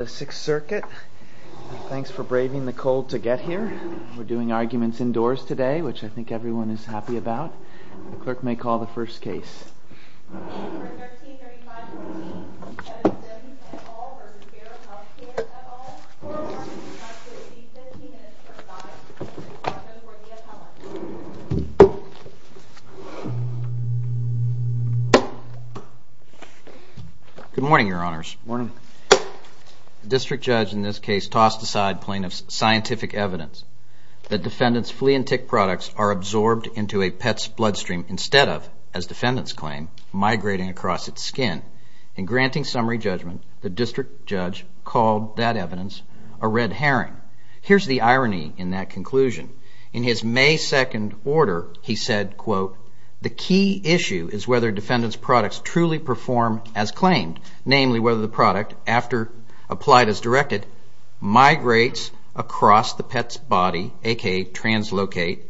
The Sixth Circuit, thanks for braving the cold to get here. We're doing arguments indoors today, which I think everyone is happy about. The clerk may call the first case. Good morning, your honors. The district judge in this case tossed aside plaintiff's scientific evidence that defendant's flea and tick products are absorbed into a pet's bloodstream instead of, as defendants claim, migrating across its skin. In granting summary judgment, the district judge called that evidence a red herring. Here's the irony in that conclusion. In his May 2nd order, he said, quote, The key issue is whether defendant's products truly perform as claimed, namely whether the product, after applied as directed, migrates across the pet's body, a.k.a. translocate,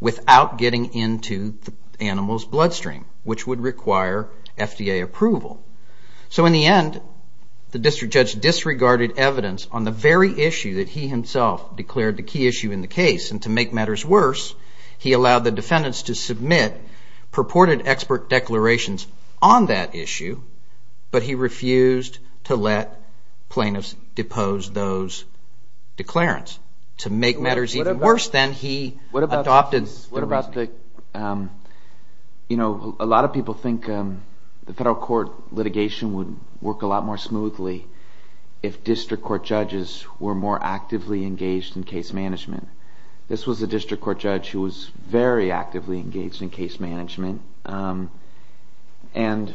without getting into the animal's bloodstream, which would require FDA approval. So in the end, the district judge disregarded evidence on the very issue that he himself declared the key issue in the case. And to make matters worse, he allowed the defendants to submit purported expert declarations on that issue, but he refused to let plaintiffs depose those declarants. To make matters even worse, then, he adopted... What about the... You know, a lot of people think the federal court litigation would work a lot more smoothly if district court judges were more actively engaged in case management. This was a district court judge who was very actively engaged in case management. And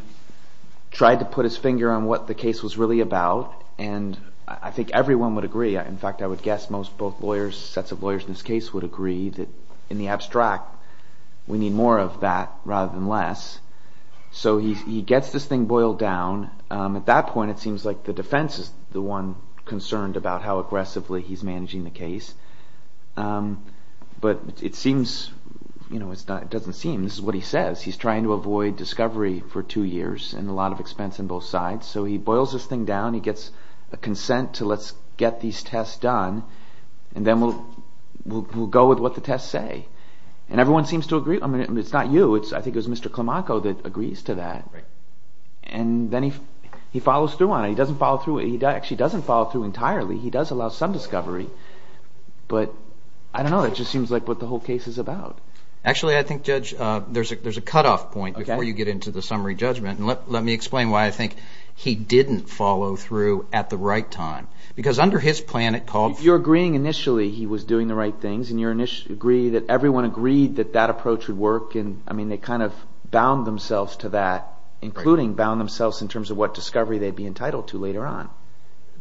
tried to put his finger on what the case was really about. And I think everyone would agree, in fact, I would guess most both lawyers, sets of lawyers in this case would agree, that in the abstract, we need more of that rather than less. So he gets this thing boiled down. At that point, it seems like the defense is the one concerned about how aggressively he's managing the case. But it seems... It doesn't seem. This is what he says. He's trying to avoid discovery for two years and a lot of expense on both sides. So he boils this thing down. He gets a consent to let's get these tests done. And then we'll go with what the tests say. And everyone seems to agree. I mean, it's not you. I think it was Mr. Climaco that agrees to that. And then he follows through on it. He doesn't follow through... He actually doesn't follow through entirely. He does allow some discovery. But I don't know. It just seems like what the whole case is about. Actually, I think, Judge, there's a cutoff point before you get into the summary judgment. Let me explain why I think he didn't follow through at the right time. Because under his plan, it called for... You're agreeing initially he was doing the right things. And you agree that everyone agreed that that approach would work. I mean, they kind of bound themselves to that, including bound themselves in terms of what discovery they'd be entitled to later on.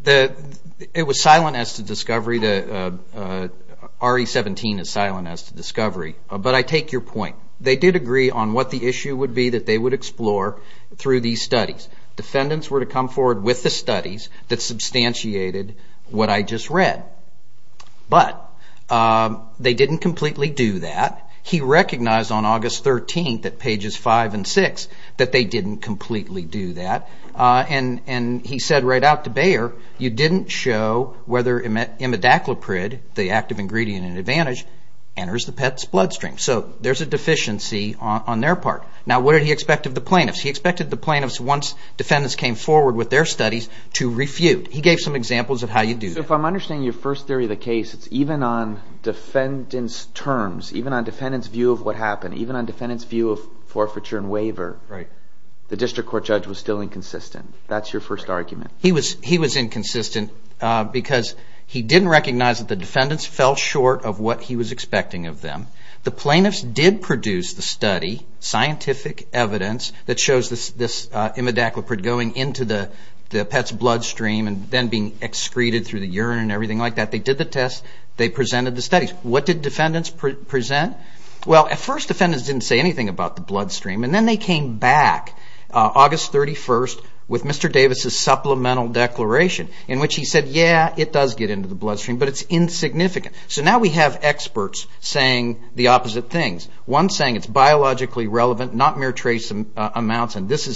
It was silent as to discovery. RE-17 is silent as to discovery. But I take your point. They did agree on what the issue would be that they would explore through these studies. Defendants were to come forward with the studies that substantiated what I just read. But they didn't completely do that. He recognized on August 13th at pages 5 and 6 that they didn't completely do that. And he said right out to Bayer, you didn't show whether imidacloprid, the active ingredient in Advantage, enters the pet's bloodstream. So there's a deficiency on their part. Now, what did he expect of the plaintiffs? He expected the plaintiffs, once defendants came forward with their studies, to refute. He gave some examples of how you do that. So if I'm understanding your first theory of the case, it's even on defendant's terms, even on defendant's view of what happened, even on defendant's view of forfeiture and waiver, the district court judge was still inconsistent. That's your first argument. He was inconsistent because he didn't recognize that the defendants fell short of what he was expecting of them. The plaintiffs did produce the study, scientific evidence, that shows this imidacloprid going into the pet's bloodstream and then being excreted through the urine and everything like that. They did the test. They presented the studies. What did defendants present? Well, at first, defendants didn't say anything about the bloodstream. And then they came back August 31st with Mr. Davis' supplemental declaration in which he said, yeah, it does get into the bloodstream, but it's insignificant. So now we have experts saying the opposite things. One saying it's biologically relevant, not mere trace amounts, and this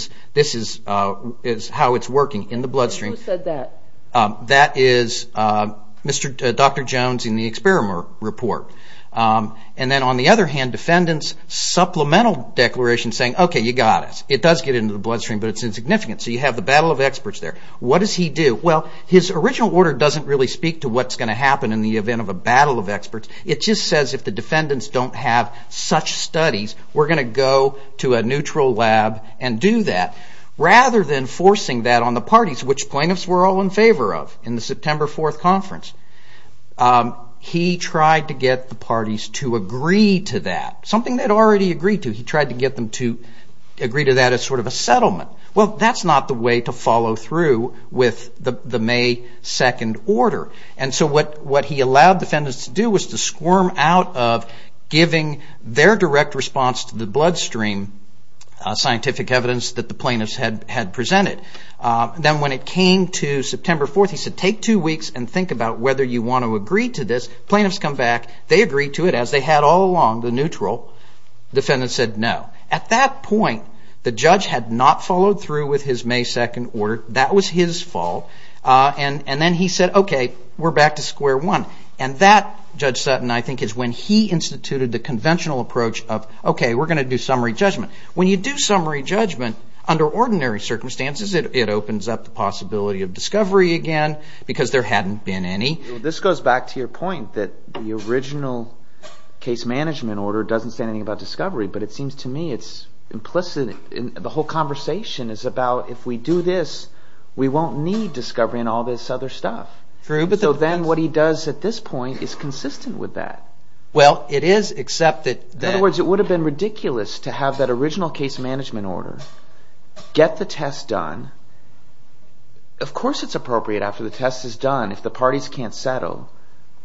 is how it's working in the bloodstream. Who said that? That is Dr. Jones in the experiment report. And then on the other hand, defendants' supplemental declaration saying, okay, you got us. It does get into the bloodstream, but it's insignificant. So you have the battle of experts there. What does he do? Well, his original order doesn't really speak to what's going to happen in the event of a battle of experts. It just says if the defendants don't have such studies, we're going to go to a neutral lab and do that. Rather than forcing that on the parties, which plaintiffs were all in favor of in the September 4th conference, he tried to get the parties to agree to that, something they'd already agreed to. He tried to get them to agree to that as sort of a settlement. Well, that's not the way to follow through with the May 2nd order. And so what he allowed defendants to do was to squirm out of giving their direct response to the bloodstream scientific evidence that the plaintiffs had presented. Then when it came to September 4th, he said, take two weeks and think about whether you want to agree to this. Plaintiffs come back. They agree to it as they had all along, the neutral. Defendants said no. At that point, the judge had not followed through with his May 2nd order. That was his fault. And then he said, okay, we're back to square one. And that, Judge Sutton, I think, is when he instituted the conventional approach of, okay, we're going to do summary judgment. When you do summary judgment, under ordinary circumstances, it opens up the possibility of discovery again because there hadn't been any. This goes back to your point that the original case management order doesn't say anything about discovery. But it seems to me it's implicit. The whole conversation is about if we do this, we won't need discovery and all this other stuff. So then what he does at this point is consistent with that. Well, it is, except that... The original case management order, get the test done. Of course it's appropriate after the test is done, if the parties can't settle,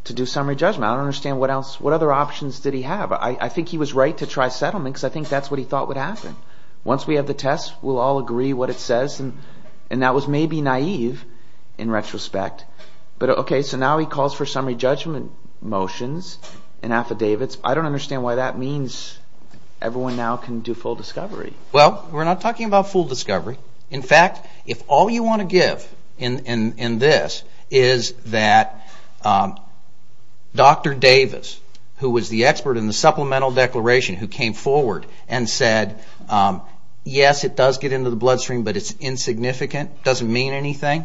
to do summary judgment. I don't understand what other options did he have. I think he was right to try settlement because I think that's what he thought would happen. Once we have the test, we'll all agree what it says. And that was maybe naive in retrospect. But, okay, so now he calls for summary judgment motions and affidavits. I don't understand why that means everyone now can do full discovery. Well, we're not talking about full discovery. In fact, if all you want to give in this is that Dr. Davis, who was the expert in the supplemental declaration who came forward and said, yes, it does get into the bloodstream, but it's insignificant, doesn't mean anything.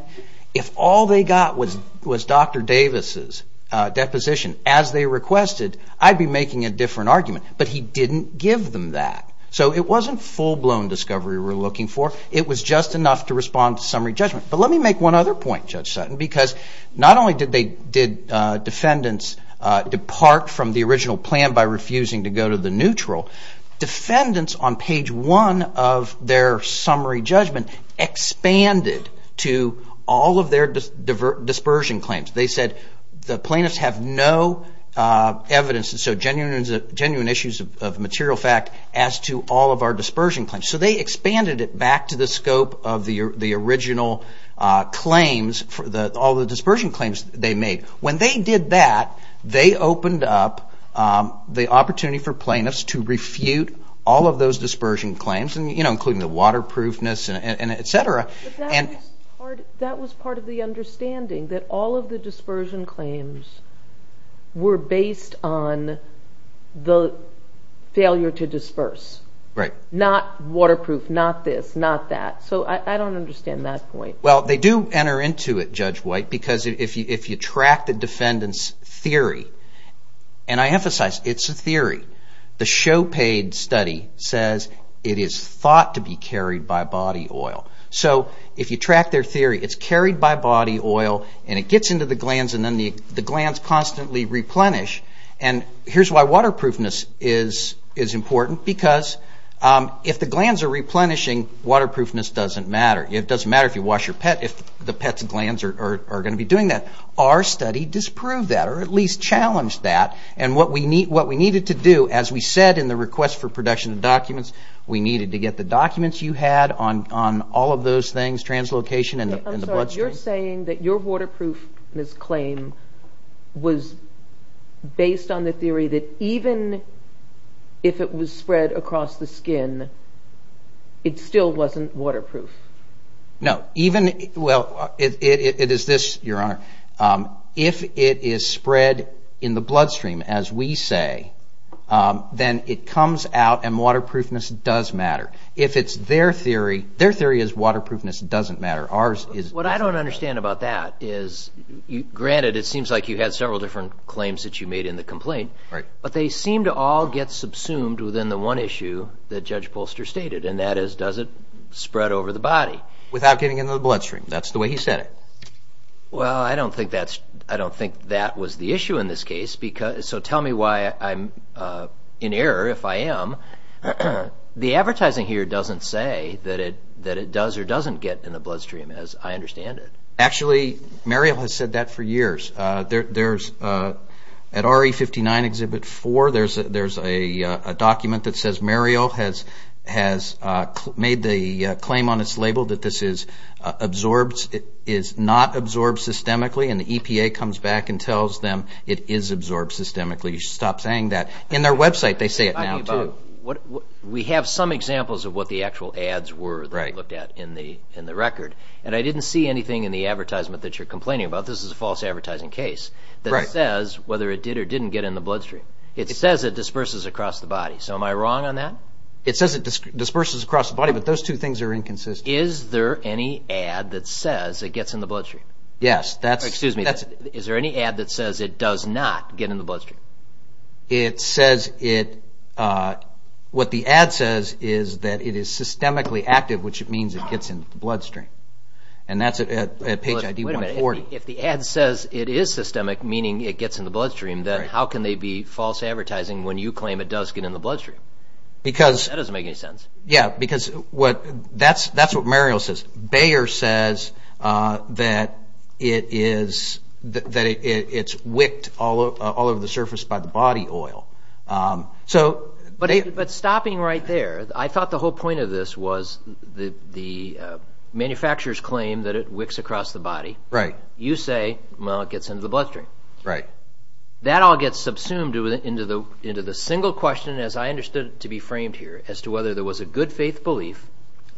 If all they got was Dr. Davis' deposition as they requested, I'd be making a different argument. But he didn't give them that. So it wasn't full-blown discovery we're looking for. It was just enough to respond to summary judgment. But let me make one other point, Judge Sutton, because not only did defendants depart from the original plan by refusing to go to the neutral, defendants on page one of their summary judgment expanded to all of their dispersion claims. They said the plaintiffs have no evidence, so genuine issues of material fact, as to all of our dispersion claims. So they expanded it back to the scope of the original claims, all the dispersion claims they made. When they did that, they opened up the opportunity for plaintiffs to refute all of those dispersion claims, including the waterproofness and et cetera. But that was part of the understanding, that all of the dispersion claims were based on the failure to disperse. Right. Not waterproof, not this, not that. So I don't understand that point. Well, they do enter into it, Judge White, because if you track the defendant's theory, and I emphasize, it's a theory. The show paid study says it is thought to be carried by body oil. So if you track their theory, it's carried by body oil, and it gets into the glands, and then the glands constantly replenish. And here's why waterproofness is important, because if the glands are replenishing, waterproofness doesn't matter. It doesn't matter if you wash your pet, if the pet's glands are going to be doing that. Our study disproved that, or at least challenged that. And what we needed to do, as we said in the request for production of documents, we needed to get the documents you had on all of those things, translocation and the bloodstream. I'm sorry. You're saying that your waterproofness claim was based on the theory that even if it was spread across the skin, it still wasn't waterproof. No. Even, well, it is this, Your Honor, if it is spread in the bloodstream, as we say, then it comes out and waterproofness does matter. If it's their theory, their theory is waterproofness doesn't matter. What I don't understand about that is, granted, it seems like you had several different claims that you made in the complaint, but they seem to all get subsumed within the one issue that Judge Polster stated, and that is, does it spread over the body? Without getting into the bloodstream. That's the way he said it. Well, I don't think that was the issue in this case, so tell me why I'm in error, if I am. The advertising here doesn't say that it does or doesn't get in the bloodstream, as I understand it. Actually, Muriel has said that for years. At RE59 Exhibit 4, there's a document that says Muriel has made the claim on its label that this is absorbed, in other words, it is not absorbed systemically, and the EPA comes back and tells them it is absorbed systemically. You should stop saying that. In their website, they say it now, too. We have some examples of what the actual ads were that we looked at in the record, and I didn't see anything in the advertisement that you're complaining about. This is a false advertising case that says whether it did or didn't get in the bloodstream. It says it disperses across the body, so am I wrong on that? It says it disperses across the body, but those two things are inconsistent. Is there any ad that says it gets in the bloodstream? Yes. Excuse me. Is there any ad that says it does not get in the bloodstream? What the ad says is that it is systemically active, which means it gets in the bloodstream, and that's at page ID 140. Wait a minute. If the ad says it is systemic, meaning it gets in the bloodstream, then how can they be false advertising when you claim it does get in the bloodstream? That doesn't make any sense. Yes, because that's what Muriel says. Bayer says that it's wicked all over the surface by the body oil. But stopping right there, I thought the whole point of this was the manufacturer's claim that it wicks across the body. Right. You say, well, it gets into the bloodstream. Right. That all gets subsumed into the single question, as I understood it to be framed here, as to whether there was a good faith belief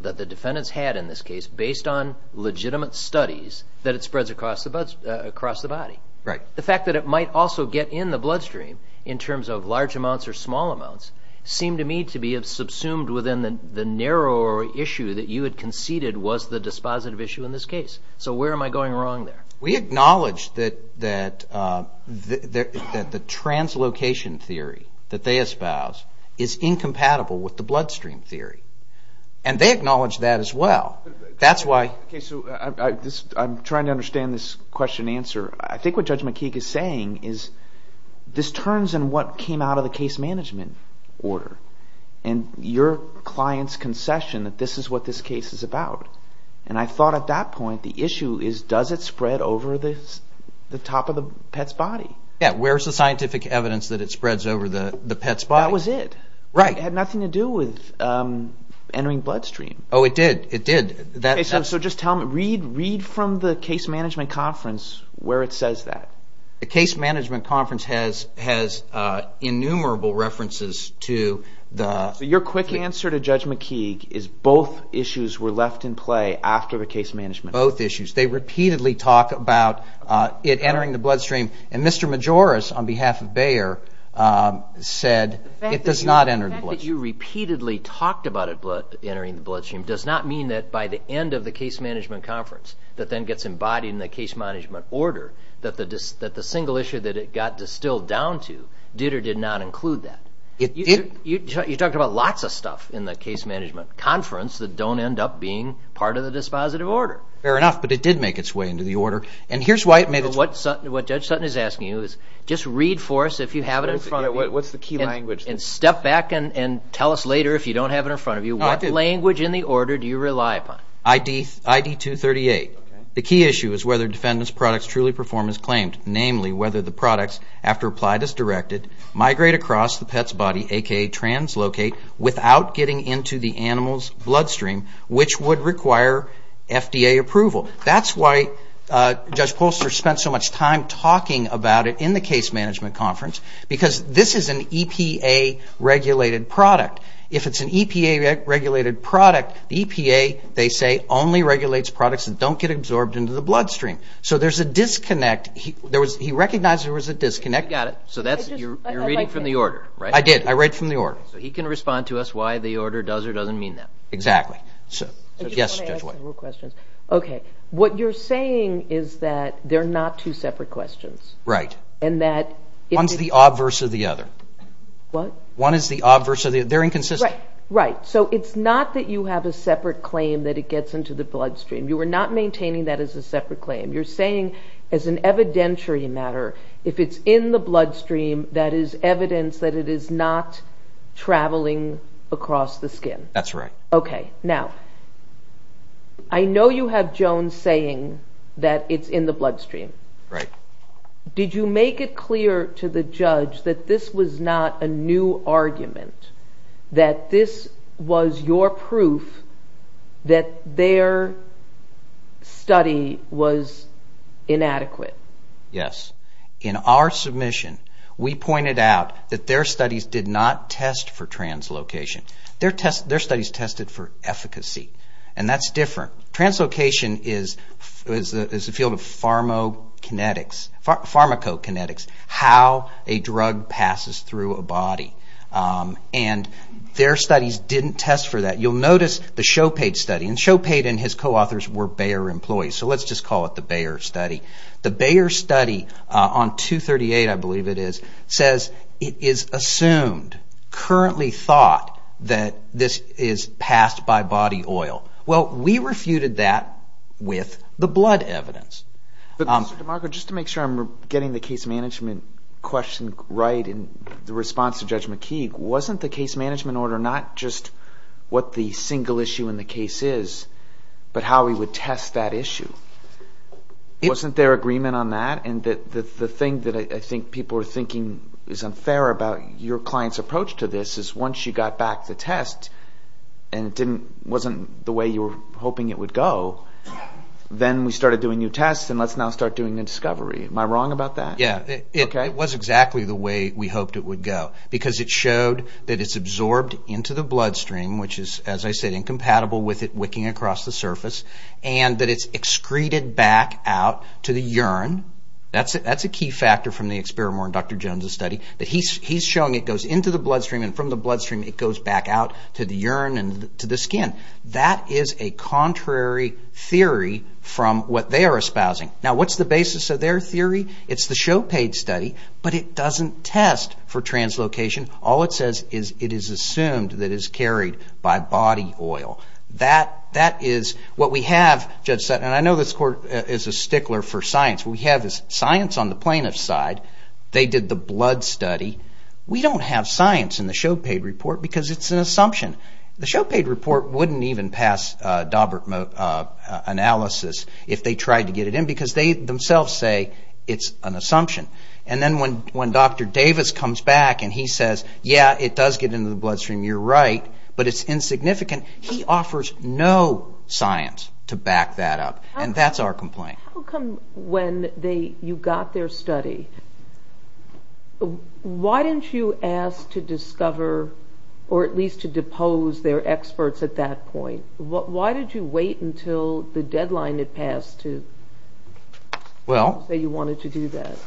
that the defendants had in this case, based on legitimate studies, that it spreads across the body. Right. The fact that it might also get in the bloodstream in terms of large amounts or small amounts seemed to me to be subsumed within the narrower issue that you had conceded was the dispositive issue in this case. So where am I going wrong there? We acknowledge that the translocation theory that they espouse is incompatible with the bloodstream theory, and they acknowledge that as well. Okay, so I'm trying to understand this question and answer. I think what Judge McKeague is saying is this turns in what came out of the case management order and your client's concession that this is what this case is about. And I thought at that point the issue is does it spread over the top of the pet's body? Yeah, where's the scientific evidence that it spreads over the pet's body? That was it. Right. It had nothing to do with entering bloodstream. Oh, it did. It did. So just tell me, read from the case management conference where it says that. The case management conference has innumerable references to the... So your quick answer to Judge McKeague is both issues were left in play after the case management conference. Both issues. They repeatedly talk about it entering the bloodstream. And Mr. Majores, on behalf of Bayer, said it does not enter the bloodstream. The fact that you repeatedly talked about it entering the bloodstream does not mean that by the end of the case management conference that then gets embodied in the case management order that the single issue that it got distilled down to did or did not include that. You talked about lots of stuff in the case management conference that don't end up being part of the dispositive order. Fair enough, but it did make its way into the order. And here's why it made its... What Judge Sutton is asking you is just read for us if you have it in front of you. What's the key language? And step back and tell us later if you don't have it in front of you. What language in the order do you rely upon? ID 238. The key issue is whether defendant's products truly perform as claimed, namely whether the products, after applied as directed, migrate across the pet's body, a.k.a. translocate, without getting into the animal's bloodstream, which would require FDA approval. That's why Judge Polster spent so much time talking about it in the case management conference, because this is an EPA-regulated product. If it's an EPA-regulated product, the EPA, they say, only regulates products that don't get absorbed into the bloodstream. So there's a disconnect. He recognized there was a disconnect. Got it. So you're reading from the order, right? I did. I read from the order. So he can respond to us why the order does or doesn't mean that. Exactly. Yes, Judge White. Okay. What you're saying is that they're not two separate questions. Right. And that... One's the obverse of the other. What? One is the obverse of the other. They're inconsistent. Right. So it's not that you have a separate claim that it gets into the bloodstream. You are not maintaining that as a separate claim. You're saying, as an evidentiary matter, if it's in the bloodstream, that is evidence that it is not traveling across the skin. That's right. Okay. Now, I know you have Jones saying that it's in the bloodstream. Right. Did you make it clear to the judge that this was not a new argument, that this was your proof that their study was inadequate? Yes. In our submission, we pointed out that their studies did not test for translocation. Their studies tested for efficacy, and that's different. Translocation is the field of pharmacokinetics, how a drug passes through a body. And their studies didn't test for that. You'll notice the Chopate study, and Chopate and his co-authors were Bayer employees, so let's just call it the Bayer study. The Bayer study on 238, I believe it is, says it is assumed, currently thought, that this is passed by body oil. Well, we refuted that with the blood evidence. Mr. DeMarco, just to make sure I'm getting the case management question right in response to Judge McKeague, wasn't the case management order not just what the single issue in the case is, but how we would test that issue? Wasn't there agreement on that? And the thing that I think people are thinking is unfair about your client's approach to this is once you got back the test, and it wasn't the way you were hoping it would go, then we started doing new tests, and let's now start doing new discovery. Am I wrong about that? Yeah, it was exactly the way we hoped it would go, because it showed that it's absorbed into the bloodstream, which is, as I said, incompatible with it wicking across the surface, and that it's excreted back out to the urine. That's a key factor from the Experimore and Dr. Jones' study. He's showing it goes into the bloodstream, and from the bloodstream, it goes back out to the urine and to the skin. That is a contrary theory from what they are espousing. Now, what's the basis of their theory? It's the Chopait study, but it doesn't test for translocation. All it says is it is assumed that it's carried by body oil. That is what we have, Judge Sutton, and I know this court is a stickler for science. What we have is science on the plaintiff's side. They did the blood study. We don't have science in the Chopait report, because it's an assumption. The Chopait report wouldn't even pass Daubert analysis if they tried to get it in, because they themselves say it's an assumption. And then when Dr. Davis comes back and he says, yeah, it does get into the bloodstream, you're right, but it's insignificant, he offers no science to back that up, and that's our complaint. How come when you got their study, why didn't you ask to discover or at least to depose their experts at that point? Why did you wait until the deadline had passed to say you wanted to do that?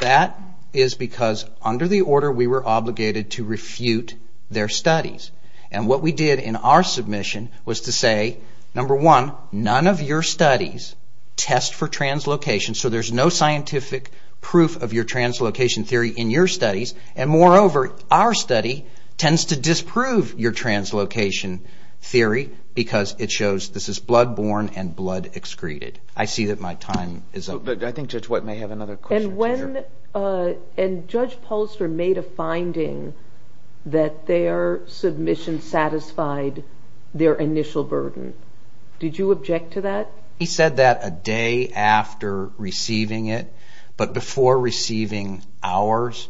That is because under the order we were obligated to refute their studies. And what we did in our submission was to say, number one, none of your studies test for translocation, so there's no scientific proof of your translocation theory in your studies, and moreover, our study tends to disprove your translocation theory, because it shows this is blood-borne and blood-excreted. I see that my time is up. I think Judge White may have another question. And Judge Polster made a finding that their submission satisfied their initial burden. Did you object to that? He said that a day after receiving it, but before receiving ours.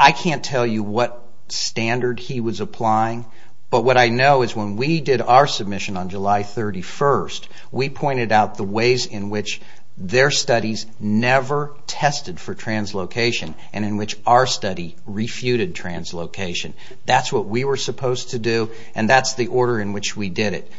I can't tell you what standard he was applying, but what I know is when we did our submission on July 31st, we pointed out the ways in which their studies never tested for translocation and in which our study refuted translocation. That's what we were supposed to do, and that's the order in which we did it.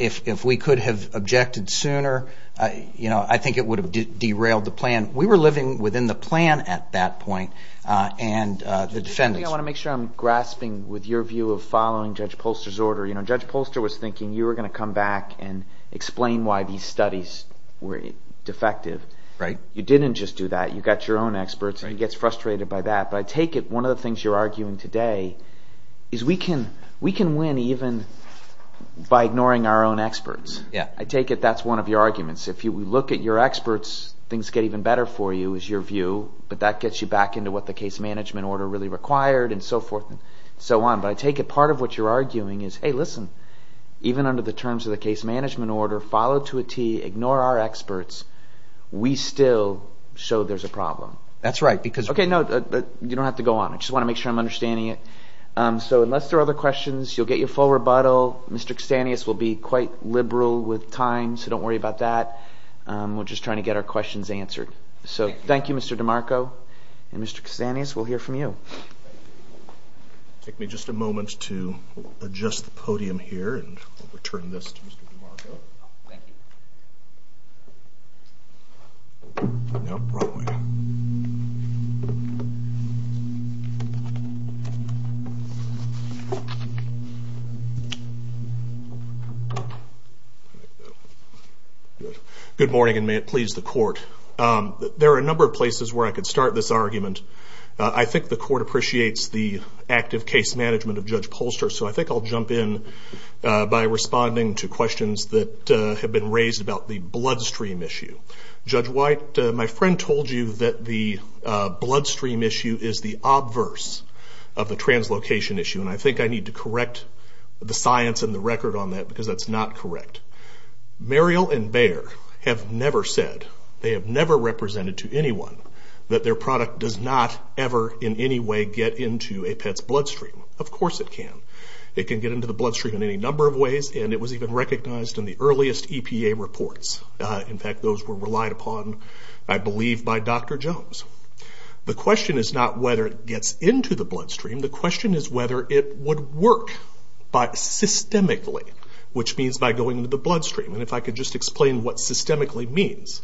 If we could have objected sooner, I think it would have derailed the plan. We were living within the plan at that point, and the defendants were. I want to make sure I'm grasping with your view of following Judge Polster's order. Judge Polster was thinking you were going to come back and explain why these studies were defective. You didn't just do that. You got your own experts, and he gets frustrated by that. But I take it one of the things you're arguing today is we can win even by ignoring our own experts. I take it that's one of your arguments. If you look at your experts, things get even better for you is your view, but that gets you back into what the case management order really required and so forth and so on. But I take it part of what you're arguing is, hey, listen, even under the terms of the case management order, follow to a T, ignore our experts, we still show there's a problem. That's right. Okay, no, you don't have to go on. I just want to make sure I'm understanding it. So unless there are other questions, you'll get your full rebuttal. Mr. Kastanis will be quite liberal with time, so don't worry about that. We're just trying to get our questions answered. So thank you, Mr. DeMarco, and Mr. Kastanis, we'll hear from you. Take me just a moment to adjust the podium here and return this to Mr. DeMarco. Thank you. Good morning, and may it please the Court. There are a number of places where I could start this argument. I think the Court appreciates the active case management of Judge Polster, so I think I'll jump in by responding to questions that have been raised about the bloodstream issue. Judge White, my friend told you that the bloodstream issue is the obverse of the translocation issue, and I think I need to correct the science and the record on that because that's not correct. Mariel and Bayer have never said, they have never represented to anyone, that their product does not ever in any way get into a pet's bloodstream. Of course it can. It can get into the bloodstream in any number of ways, and it was even recognized in the earliest EPA reports. In fact, those were relied upon, I believe, by Dr. Jones. The question is not whether it gets into the bloodstream. The question is whether it would work systemically, which means by going into the bloodstream. And if I could just explain what systemically means.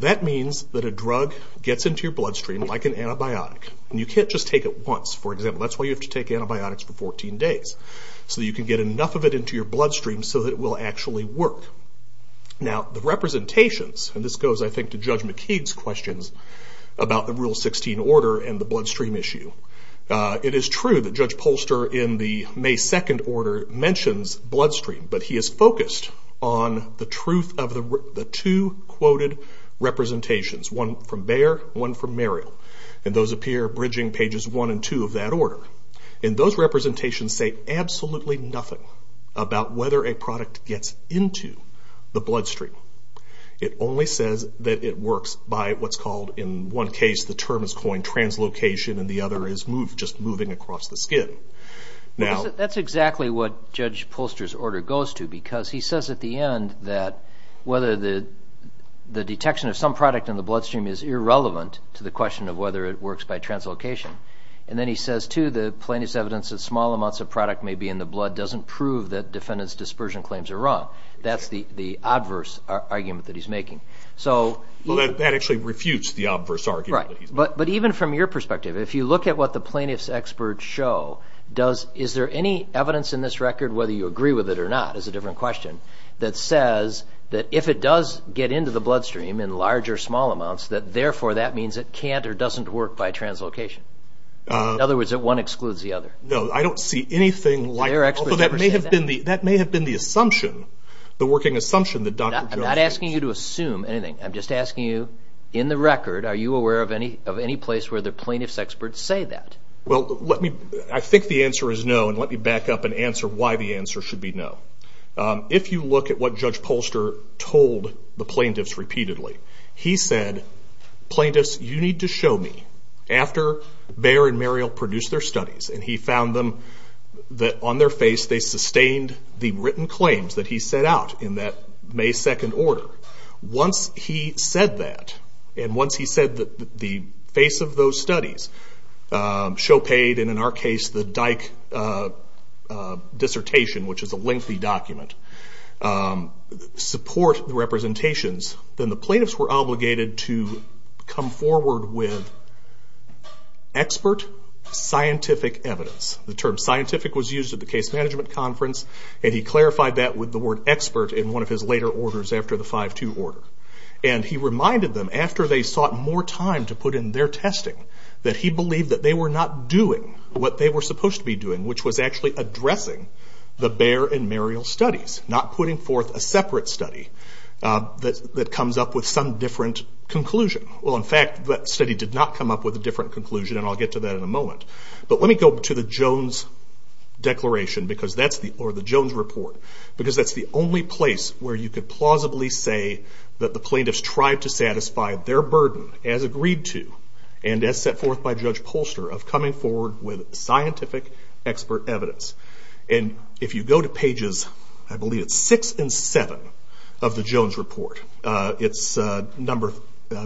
That means that a drug gets into your bloodstream like an antibiotic, and you can't just take it once. For example, that's why you have to take antibiotics for 14 days, so that you can get enough of it into your bloodstream so that it will actually work. Now, the representations, and this goes, I think, to Judge McKeague's questions about the Rule 16 order and the bloodstream issue. It is true that Judge Polster, in the May 2nd order, mentions bloodstream, but he is focused on the truth of the two quoted representations, one from Bayer, one from Merrill. And those appear bridging pages 1 and 2 of that order. And those representations say absolutely nothing about whether a product gets into the bloodstream. It only says that it works by what's called, in one case, the term is coined translocation, and the other is just moving across the skin. That's exactly what Judge Polster's order goes to, because he says at the end that whether the detection of some product in the bloodstream is irrelevant to the question of whether it works by translocation. And then he says, too, the plaintiff's evidence that small amounts of product may be in the blood doesn't prove that defendant's dispersion claims are wrong. That's the adverse argument that he's making. Well, that actually refutes the adverse argument. Right. But even from your perspective, if you look at what the plaintiff's experts show, is there any evidence in this record, whether you agree with it or not, is a different question, that says that if it does get into the bloodstream in large or small amounts, that therefore that means it can't or doesn't work by translocation? In other words, that one excludes the other. No, I don't see anything like that. So that may have been the assumption, the working assumption that Dr. Jones made. I'm not asking you to assume anything. I'm just asking you, in the record, are you aware of any place where the plaintiff's experts say that? Well, I think the answer is no, and let me back up and answer why the answer should be no. If you look at what Judge Polster told the plaintiffs repeatedly, he said, plaintiffs, you need to show me, after Bayer and Marial produced their studies, and he found them, that on their face they sustained the written claims that he set out in that May 2nd order. Once he said that, and once he said that the face of those studies, show paid, and in our case the Dyke dissertation, which is a lengthy document, support the representations, then the plaintiffs were obligated to come forward with expert, scientific evidence. The term scientific was used at the case management conference, and he clarified that with the word expert in one of his later orders after the 5-2 order. And he reminded them, after they sought more time to put in their testing, that he believed that they were not doing what they were supposed to be doing, which was actually addressing the Bayer and Marial studies, not putting forth a separate study that comes up with some different conclusion. Well, in fact, that study did not come up with a different conclusion, and I'll get to that in a moment. But let me go to the Jones Declaration, or the Jones Report, because that's the only place where you could plausibly say that the plaintiffs tried to satisfy their burden, as agreed to, and as set forth by Judge Polster, of coming forward with scientific, expert evidence. And if you go to pages, I believe it's six and seven, of the Jones Report, it's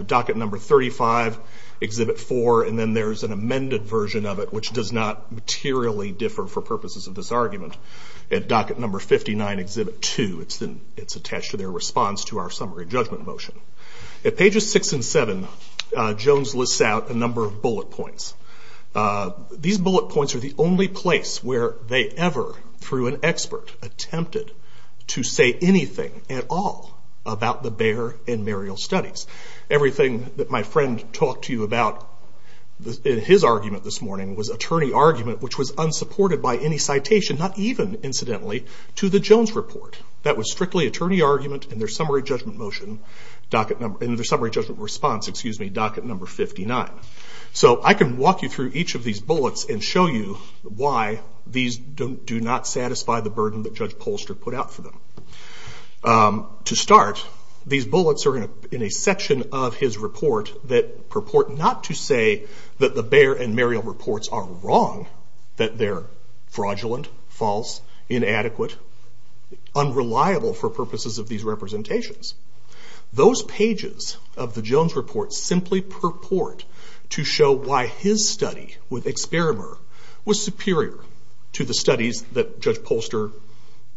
docket number 35, Exhibit 4, and then there's an amended version of it, which does not materially differ for purposes of this argument. At docket number 59, Exhibit 2, it's attached to their response to our summary judgment motion. At pages six and seven, Jones lists out a number of bullet points. These bullet points are the only place where they ever, through an expert, attempted to say anything at all about the Bayer and Muriel studies. Everything that my friend talked to you about in his argument this morning was attorney argument, which was unsupported by any citation, not even, incidentally, to the Jones Report. That was strictly attorney argument in their summary judgment response, docket number 59. So I can walk you through each of these bullets and show you why these do not satisfy the burden that Judge Polster put out for them. To start, these bullets are in a section of his report that purport not to say that the Bayer and Muriel reports are wrong, that they're fraudulent, false, inadequate, unreliable for purposes of these representations. Those pages of the Jones Report simply purport to show why his study with Experimur was superior to the studies that Judge Polster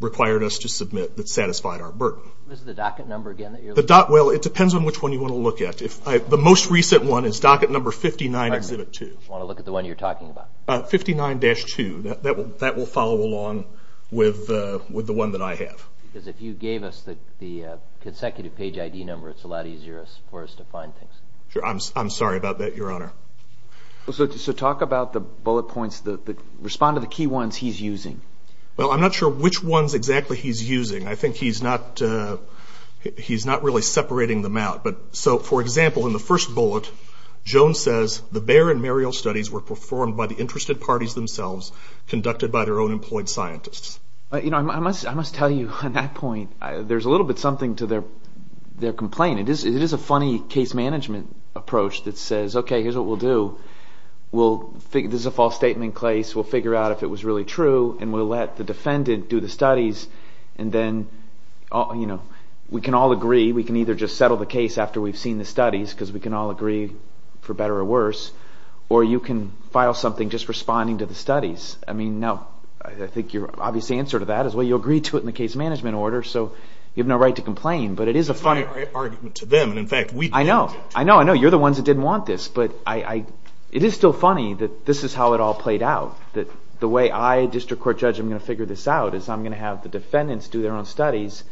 required us to submit that satisfied our burden. Is it the docket number again that you're looking at? Well, it depends on which one you want to look at. The most recent one is docket number 59, Exhibit 2. I want to look at the one you're talking about. 59-2. That will follow along with the one that I have. Because if you gave us the consecutive page ID number, it's a lot easier for us to find things. Sure. I'm sorry about that, Your Honor. So talk about the bullet points. Respond to the key ones he's using. Well, I'm not sure which ones exactly he's using. I think he's not really separating them out. So, for example, in the first bullet, Jones says, the Bayer and Muriel studies were performed by the interested parties themselves, conducted by their own employed scientists. You know, I must tell you on that point, there's a little bit something to their complaint. It is a funny case management approach that says, okay, here's what we'll do. This is a false statement case. We'll figure out if it was really true, and we'll let the defendant do the studies, and then we can all agree. We can either just settle the case after we've seen the studies, because we can all agree for better or worse, or you can file something just responding to the studies. I mean, no. I think your obvious answer to that is, well, you agreed to it in the case management order, so you have no right to complain. But it is a funny argument to them. I know. I know. I know. You're the ones that didn't want this. But it is still funny that this is how it all played out, that the way I, a district court judge, am going to figure this out is I'm going to have the defendants do their own studies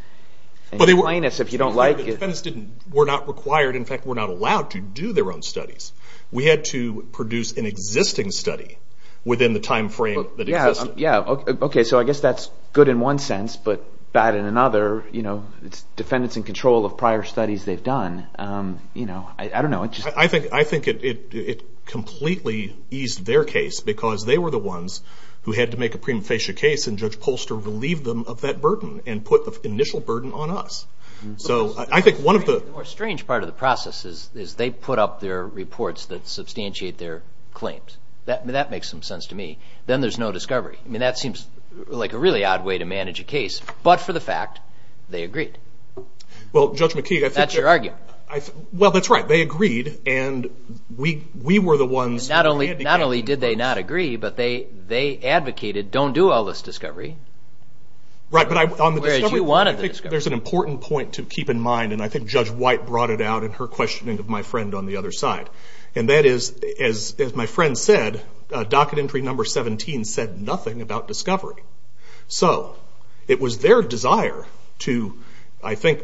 and complain to us if you don't like it. The defendants were not required, in fact, were not allowed to do their own studies. We had to produce an existing study within the time frame that existed. Yeah. Okay. So I guess that's good in one sense, but bad in another. It's defendants in control of prior studies they've done. I don't know. I think it completely eased their case, because they were the ones who had to make a prima facie case, and Judge Polster relieved them of that burden and put the initial burden on us. The more strange part of the process is they put up their reports that substantiate their claims. That makes some sense to me. Then there's no discovery. I mean, that seems like a really odd way to manage a case. But for the fact, they agreed. That's your argument. Well, that's right. They agreed, and we were the ones who advocated. Not only did they not agree, but they advocated, don't do all this discovery. Right. There's an important point to keep in mind, and I think Judge White brought it out in her questioning of my friend on the other side. And that is, as my friend said, docket entry number 17 said nothing about discovery. So it was their desire to, I think,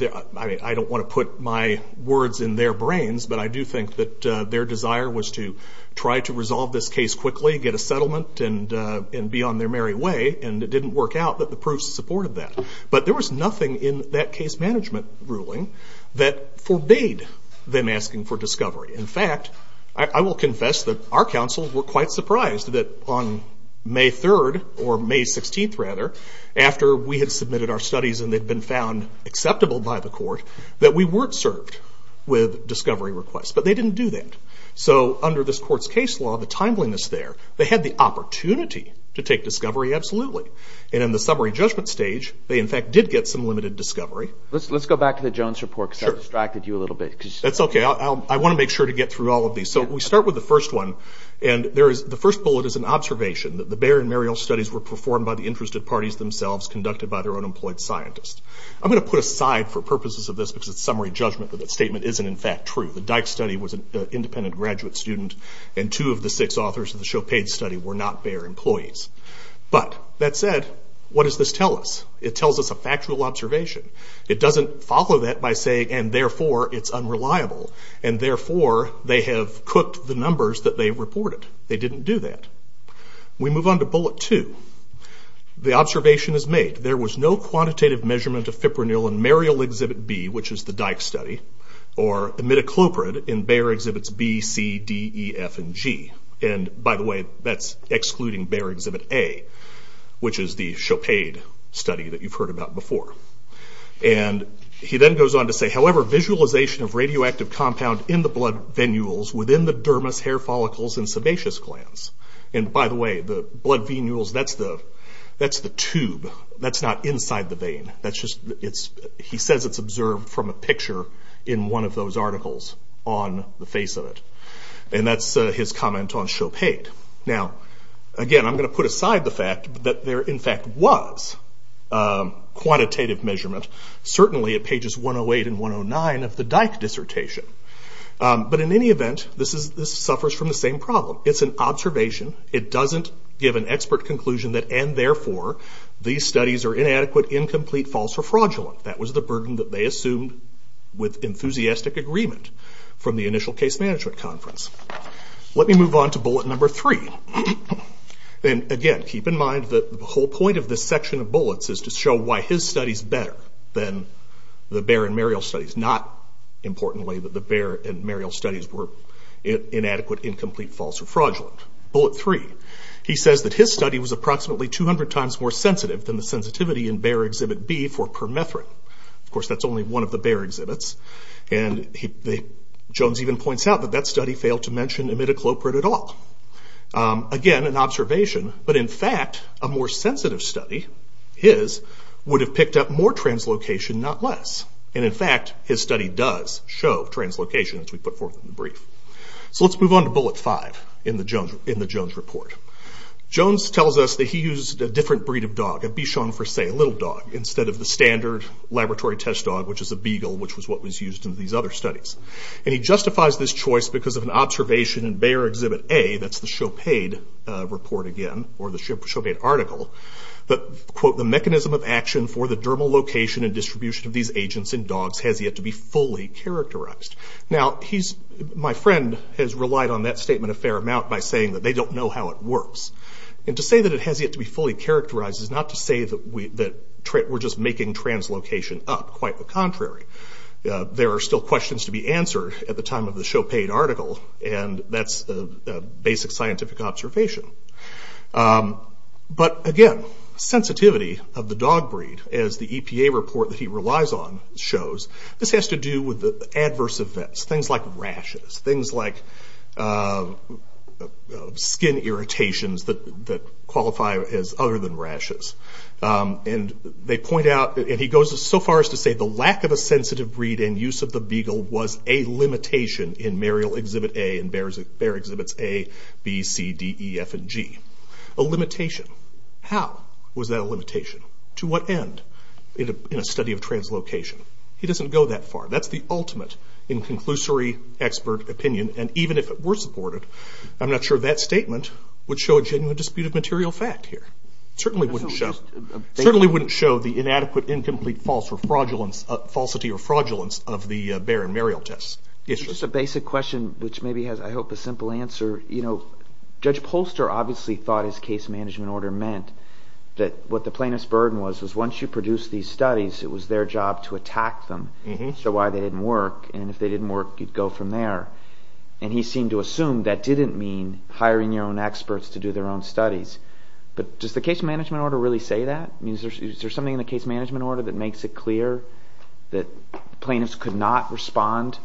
I don't want to put my words in their brains, but I do think that their desire was to try to resolve this case quickly, get a settlement, and be on their merry way. And it didn't work out that the proofs supported that. But there was nothing in that case management ruling that forbade them asking for discovery. In fact, I will confess that our counsel were quite surprised that on May 3rd, or May 16th rather, after we had submitted our studies and they'd been found acceptable by the court, that we weren't served with discovery requests. But they didn't do that. So under this court's case law, the timeliness there, they had the opportunity to take discovery absolutely. And in the summary judgment stage, they in fact did get some limited discovery. Let's go back to the Jones report because that distracted you a little bit. That's okay. I want to make sure to get through all of these. So we start with the first one, and the first bullet is an observation that the Bayer and Marial studies were performed by the interested parties themselves, conducted by their unemployed scientists. I'm going to put aside for purposes of this because it's summary judgment that that statement isn't in fact true. The Dyck study was an independent graduate student, and two of the six authors of the Chopin study were not Bayer employees. But that said, what does this tell us? It tells us a factual observation. It doesn't follow that by saying, and therefore it's unreliable, and therefore they have cooked the numbers that they reported. They didn't do that. We move on to bullet two. The observation is made, there was no quantitative measurement of Fipronil and Marial exhibit B, which is the Dyck study, or imidacloprid in Bayer exhibits B, C, D, E, F, and G. By the way, that's excluding Bayer exhibit A, which is the Chopin study that you've heard about before. He then goes on to say, however visualization of radioactive compound in the blood venules within the dermis, hair follicles, and sebaceous glands. By the way, the blood venules, that's the tube. That's not inside the vein. He says it's observed from a picture in one of those articles on the face of it. That's his comment on Chopin. Again, I'm going to put aside the fact that there in fact was quantitative measurement. Certainly at pages 108 and 109 of the Dyck dissertation. But in any event, this suffers from the same problem. It's an observation. It doesn't give an expert conclusion that, and therefore, these studies are inadequate, incomplete, false, or fraudulent. That was the burden that they assumed with enthusiastic agreement from the initial case management conference. Let me move on to bullet number three. Again, keep in mind that the whole point of this section of bullets is to show why his study is better than the Bayer and Marial studies. Not, importantly, that the Bayer and Marial studies were inadequate, incomplete, false, or fraudulent. Bullet three. He says that his study was approximately 200 times more sensitive than the sensitivity in Bayer Exhibit B for permethrin. Of course, that's only one of the Bayer exhibits. Jones even points out that that study failed to mention imidacloprid at all. Again, an observation. But in fact, a more sensitive study, his, would have picked up more translocation, not less. as we put forth in the brief. Let's move on to bullet five in the Jones report. Jones tells us that he used a different breed of dog, a Bichon Frise, a little dog, instead of the standard laboratory test dog, which is a beagle, which was what was used in these other studies. He justifies this choice because of an observation in Bayer Exhibit A, that's the Chopaid report again, or the Chopaid article, that, quote, the mechanism of action for the dermal location and distribution of these agents in dogs has yet to be fully characterized. Now, my friend has relied on that statement a fair amount by saying that they don't know how it works. And to say that it has yet to be fully characterized is not to say that we're just making translocation up. Quite the contrary. There are still questions to be answered at the time of the Chopaid article, and that's a basic scientific observation. But again, sensitivity of the dog breed, as the EPA report that he relies on shows, this has to do with adverse events, things like rashes, things like skin irritations that qualify as other than rashes. And they point out, and he goes so far as to say, the lack of a sensitive breed and use of the beagle was a limitation in Mariel Exhibit A and Bayer Exhibits A, B, C, D, E, F, and G. A limitation. How was that a limitation? To what end? In a study of translocation. He doesn't go that far. That's the ultimate in conclusory expert opinion, and even if it were supported, I'm not sure that statement would show a genuine dispute of material fact here. It certainly wouldn't show the inadequate, incomplete, false, or fraudulence of the Bayer and Mariel tests. Just a basic question which maybe has, I hope, a simple answer. Judge Polster obviously thought his case management order meant that what the plaintiff's burden was was once you produced these studies, it was their job to attack them to show why they didn't work. And if they didn't work, you'd go from there. And he seemed to assume that didn't mean hiring your own experts to do their own studies. But does the case management order really say that? Is there something in the case management order that makes it clear that plaintiffs could not respond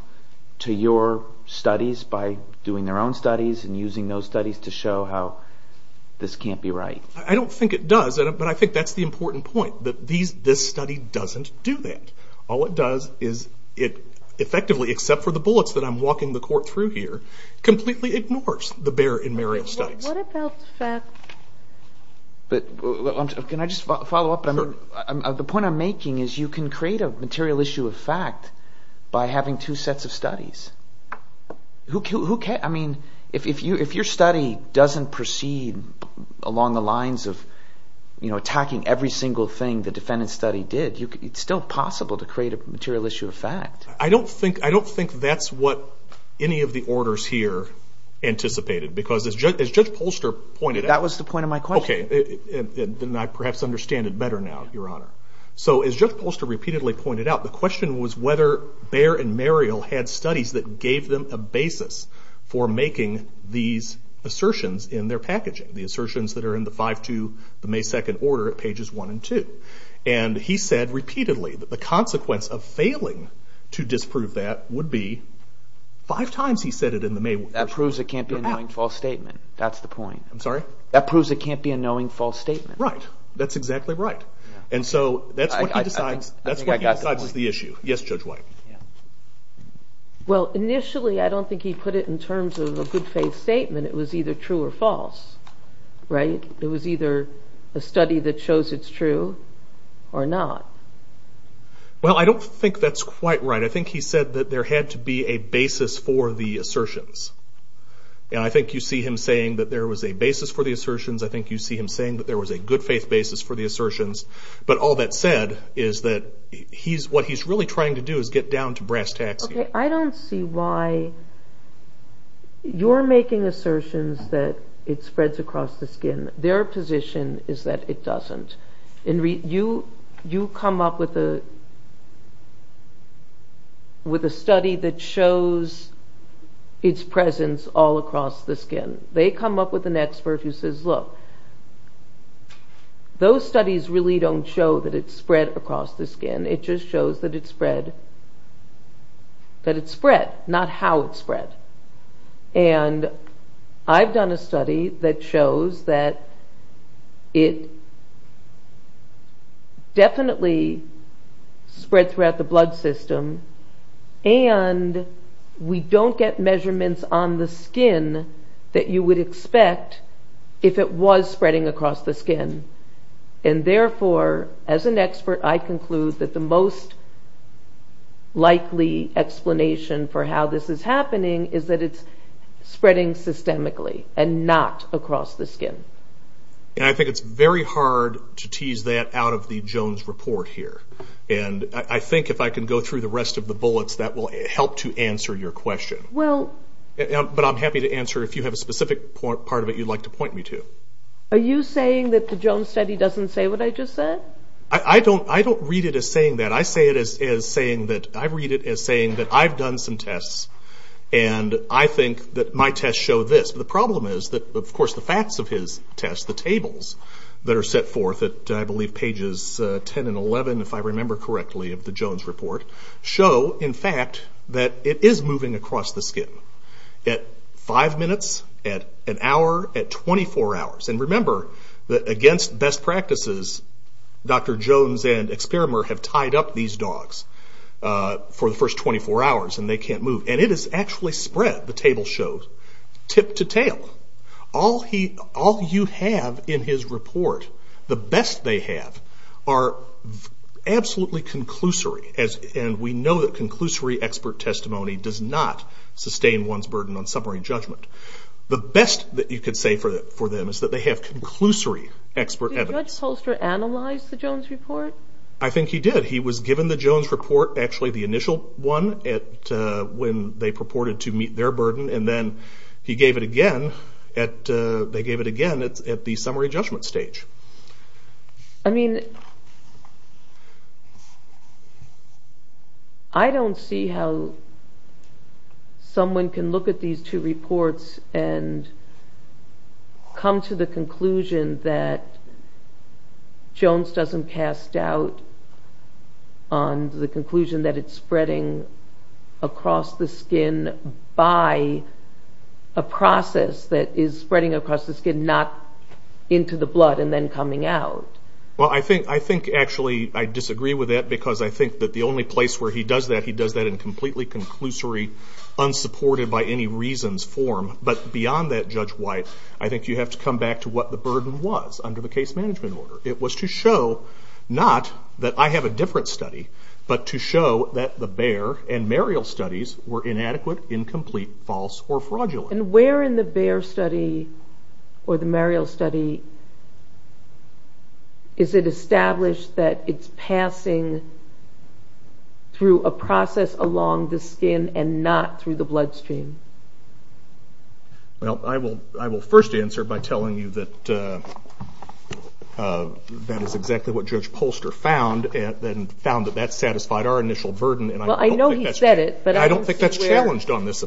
to your studies by doing their own studies and using those studies to show how this can't be right? I don't think it does, but I think that's the important point, that this study doesn't do that. All it does is it effectively, except for the bullets that I'm walking the court through here, completely ignores the Bayer and Mariel studies. Can I just follow up? The point I'm making is you can create a material issue of fact by having two sets of studies. I mean, if your study doesn't proceed along the lines of attacking every single thing the defendant's study did, it's still possible to create a material issue of fact. I don't think that's what any of the orders here anticipated, because as Judge Polster pointed out... That was the point of my question. Then I perhaps understand it better now, Your Honor. So as Judge Polster repeatedly pointed out, the question was whether Bayer and Mariel had studies that gave them a basis for making these assertions in their packaging, the assertions that are in the 5-2, the May 2nd order at pages 1 and 2. He said repeatedly that the consequence of failing to disprove that would be five times he said it in the May... That proves it can't be a knowing false statement. That's the point. I'm sorry? That proves it can't be a knowing false statement. Right. That's exactly right. And so that's what he decides is the issue. Yes, Judge White. Well, initially I don't think he put it in terms of a good faith statement. It was either true or false, right? It was either a study that shows it's true or not. Well, I don't think that's quite right. I think he said that there had to be a basis for the assertions. And I think you see him saying that there was a basis for the assertions. I think you see him saying that there was a good faith basis for the assertions. But all that said is that what he's really trying to do is get down to brass tacks here. Okay. I don't see why you're making assertions that it spreads across the skin. Their position is that it doesn't. You come up with a study that shows its presence all across the skin. They come up with an expert who says, look, those studies really don't show that it's spread across the skin. It just shows that it's spread. That it's spread, not how it's spread. And I've done a study that shows that it definitely spreads throughout the blood system. And we don't get measurements on the skin that you would expect if it was spreading across the skin. And therefore, as an expert, I conclude that the most likely explanation for how this is happening is that it's spreading systemically and not across the skin. And I think it's very hard to tease that out of the Jones report here. And I think if I can go through the rest of the bullets, that will help to answer your question. But I'm happy to answer if you have a specific part of it you'd like to point me to. Are you saying that the Jones study doesn't say what I just said? I don't read it as saying that. I read it as saying that I've done some tests, and I think that my tests show this. The problem is that, of course, the facts of his tests, the tables that are set forth at, I believe, pages 10 and 11, if I remember correctly, of the Jones report, show, in fact, that it is moving across the skin. At five minutes, at an hour, at 24 hours. And remember that against best practices, Dr. Jones and Experimer have tied up these dogs for the first 24 hours, and they can't move. And it has actually spread, the table shows, tip to tail. All you have in his report, the best they have, are absolutely conclusory. And we know that conclusory expert testimony does not sustain one's burden on summary judgment. The best that you could say for them is that they have conclusory expert evidence. Did Judge Solster analyze the Jones report? I think he did. He was given the Jones report, actually the initial one, when they purported to meet their burden, and then he gave it again at the summary judgment stage. I mean, I don't see how someone can look at these two reports and come to the conclusion that Jones doesn't cast doubt on the conclusion that it's spreading across the skin by a process that is spreading across the skin, not into the blood and then coming out. Well, I think, actually, I disagree with that because I think that the only place where he does that, he does that in completely conclusory, unsupported-by-any-reasons form. But beyond that, Judge White, I think you have to come back to what the burden was under the case management order. It was to show not that I have a different study, but to show that the Baer and Marial studies were inadequate, incomplete, false, or fraudulent. And where in the Baer study or the Marial study is it established that it's passing through a process along the skin and not through the bloodstream? Well, I will first answer by telling you that that is exactly what Judge Polster found and found that that satisfied our initial burden. Well, I know he said it, but I don't see where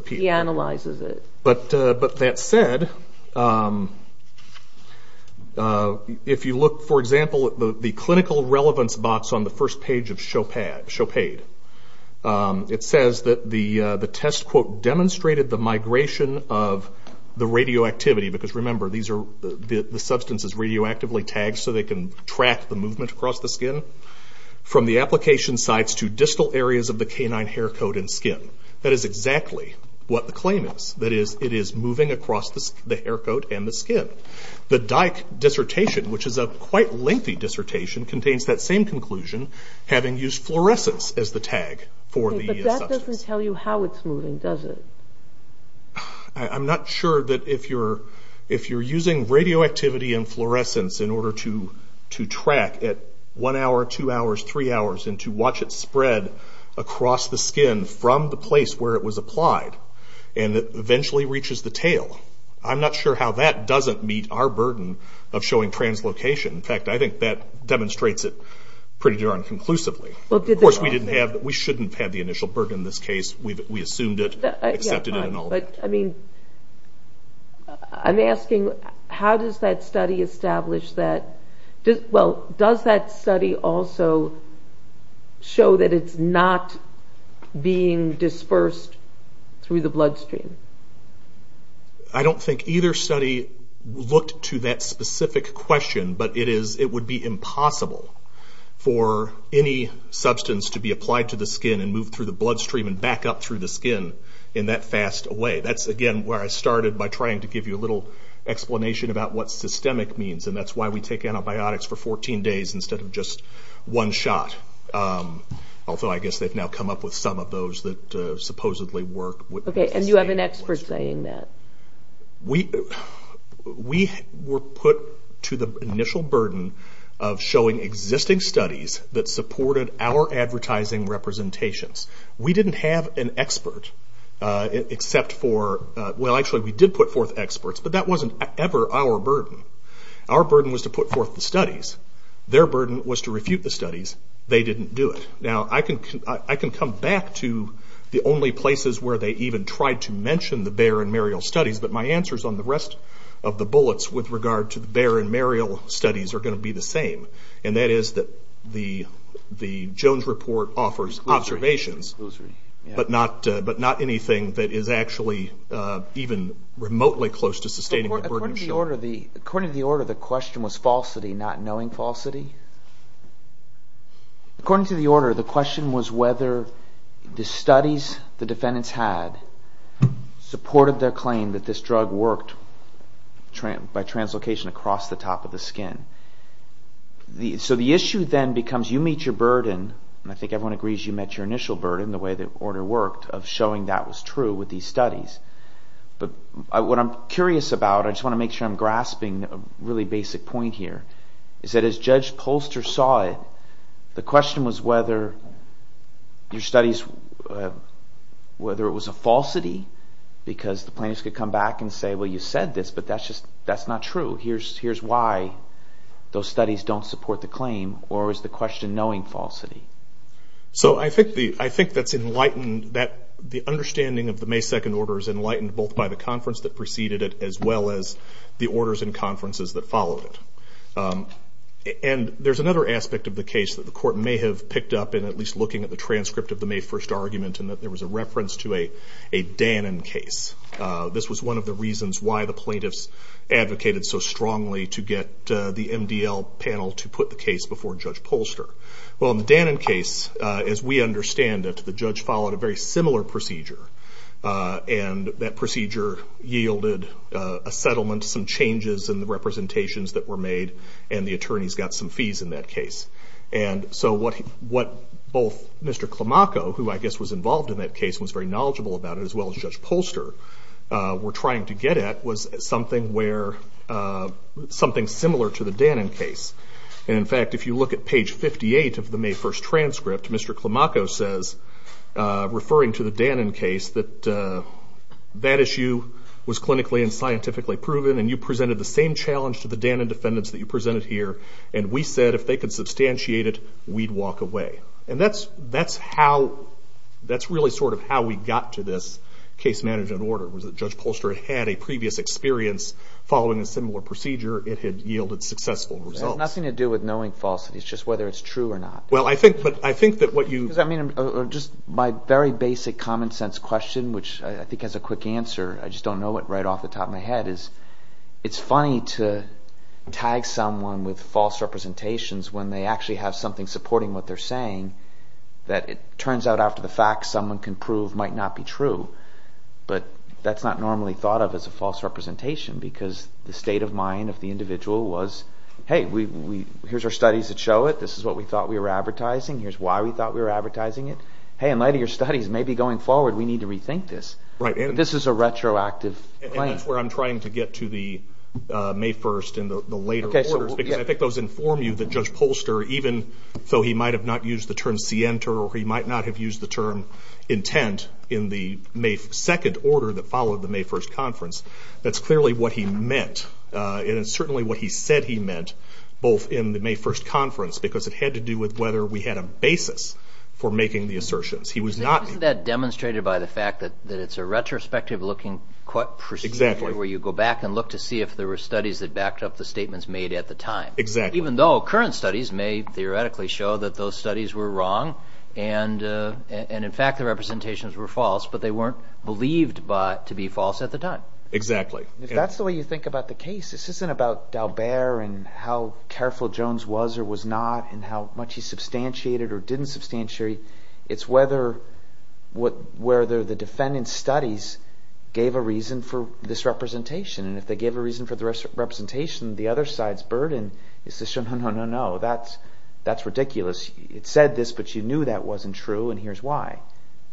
he analyzes it. But that said, if you look, for example, at the clinical relevance box on the first page of Chopaid, it says that the test, quote, demonstrated the migration of the radioactivity, because remember, the substance is radioactively tagged so they can track the movement across the skin, from the application sites to distal areas of the canine hair coat and skin. That is exactly what the claim is. That is, it is moving across the hair coat and the skin. The Dyke dissertation, which is a quite lengthy dissertation, contains that same conclusion, having used fluorescence as the tag for the substance. But that doesn't tell you how it's moving, does it? I'm not sure that if you're using radioactivity and fluorescence in order to track at one hour, two hours, three hours, and to watch it spread across the skin from the place where it was applied, and it eventually reaches the tail. I'm not sure how that doesn't meet our burden of showing translocation. In fact, I think that demonstrates it pretty darn conclusively. Of course, we shouldn't have had the initial burden in this case. We assumed it, accepted it, and all that. I'm asking, how does that study establish that? Does that study also show that it's not being dispersed through the bloodstream? I don't think either study looked to that specific question, but it would be impossible for any substance to be applied to the skin and move through the bloodstream and back up through the skin in that fast a way. That's, again, where I started by trying to give you a little explanation about what systemic means, and that's why we take antibiotics for 14 days instead of just one shot. Although I guess they've now come up with some of those that supposedly work. Okay, and you have an expert saying that? We were put to the initial burden of showing existing studies that supported our advertising representations. We didn't have an expert except for... Well, actually, we did put forth experts, but that wasn't ever our burden. Our burden was to put forth the studies. Their burden was to refute the studies. They didn't do it. Now, I can come back to the only places where they even tried to mention the Bayer and Muriel studies, but my answers on the rest of the bullets with regard to the Bayer and Muriel studies are going to be the same, and that is that the Jones report offers observations, but not anything that is actually even remotely close to sustaining the burden of showing... According to the order, the question was falsity, not knowing falsity? According to the order, the question was whether the studies the defendants had supported their claim that this drug worked by translocation across the top of the skin. So the issue then becomes you meet your burden, and I think everyone agrees you met your initial burden the way the order worked, of showing that was true with these studies. But what I'm curious about, I just want to make sure I'm grasping a really basic point here, is that as Judge Polster saw it, the question was whether your studies, whether it was a falsity, because the plaintiffs could come back and say, well, you said this, but that's not true. Here's why those studies don't support the claim, or is the question knowing falsity? So I think that's enlightened. The understanding of the May 2nd order is enlightened both by the conference that preceded it as well as the orders and conferences that followed it. And there's another aspect of the case that the court may have picked up in at least looking at the transcript of the May 1st argument, in that there was a reference to a Dannon case. This was one of the reasons why the plaintiffs advocated so strongly to get the MDL panel to put the case before Judge Polster. Well, in the Dannon case, as we understand it, the judge followed a very similar procedure, and that procedure yielded a settlement, some changes in the representations that were made, and the attorneys got some fees in that case. And so what both Mr. Climaco, who I guess was involved in that case and was very knowledgeable about it as well as Judge Polster, were trying to get at was something similar to the Dannon case. And in fact, if you look at page 58 of the May 1st transcript, Mr. Climaco says, referring to the Dannon case, that that issue was clinically and scientifically proven, and you presented the same challenge to the Dannon defendants that you presented here, and we said if they could substantiate it, we'd walk away. And that's really sort of how we got to this case management order, was that Judge Polster had a previous experience following a similar procedure. It had yielded successful results. It has nothing to do with knowing falsities, it's just whether it's true or not. Well, I think that what you— Just my very basic common sense question, which I think has a quick answer, I just don't know it right off the top of my head, is it's funny to tag someone with false representations when they actually have something supporting what they're saying, that it turns out after the fact someone can prove might not be true. But that's not normally thought of as a false representation because the state of mind of the individual was, hey, here's our studies that show it, this is what we thought we were advertising, here's why we thought we were advertising it. Hey, in light of your studies, maybe going forward we need to rethink this. This is a retroactive claim. And that's where I'm trying to get to the May 1st and the later orders, because I think those inform you that Judge Polster, even though he might have not used the term scienter or he might not have used the term intent in the May 2nd order that followed the May 1st conference, that's clearly what he meant. And it's certainly what he said he meant both in the May 1st conference because it had to do with whether we had a basis for making the assertions. Isn't that demonstrated by the fact that it's a retrospective looking where you go back and look to see if there were studies that backed up the statements made at the time? Exactly. Even though current studies may theoretically show that those studies were wrong and in fact the representations were false, but they weren't believed to be false at the time. Exactly. If that's the way you think about the case, this isn't about Dalbert and how careful Jones was or was not and how much he substantiated or didn't substantiate. It's whether the defendant's studies gave a reason for this representation. And if they gave a reason for the representation, the other side's burden is to show no, no, no, no, that's ridiculous. It said this, but you knew that wasn't true, and here's why.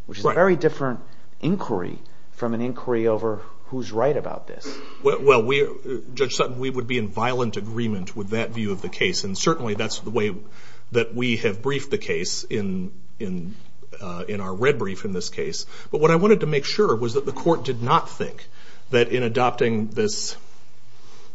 Which is a very different inquiry from an inquiry over who's right about this. Well, Judge Sutton, we would be in violent agreement with that view of the case, and certainly that's the way that we have briefed the case in our red brief in this case. But what I wanted to make sure was that the court did not think that in adopting this,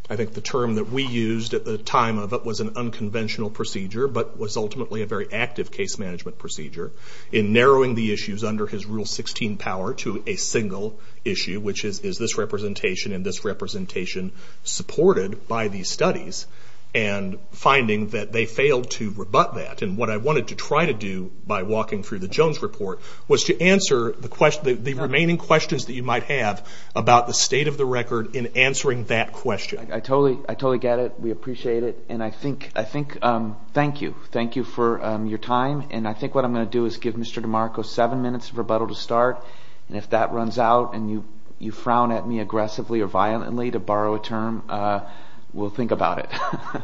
I think the term that we used at the time of it was an unconventional procedure, but was ultimately a very active case management procedure. In narrowing the issues under his Rule 16 power to a single issue, which is this representation and this representation supported by these studies, and finding that they failed to rebut that. And what I wanted to try to do by walking through the Jones report was to answer the remaining questions that you might have about the state of the record in answering that question. I totally get it. We appreciate it. And I think, thank you. Thank you for your time. And I think what I'm going to do is give Mr. DeMarco seven minutes of rebuttal to start, and if that runs out and you frown at me aggressively or violently to borrow a term, we'll think about it.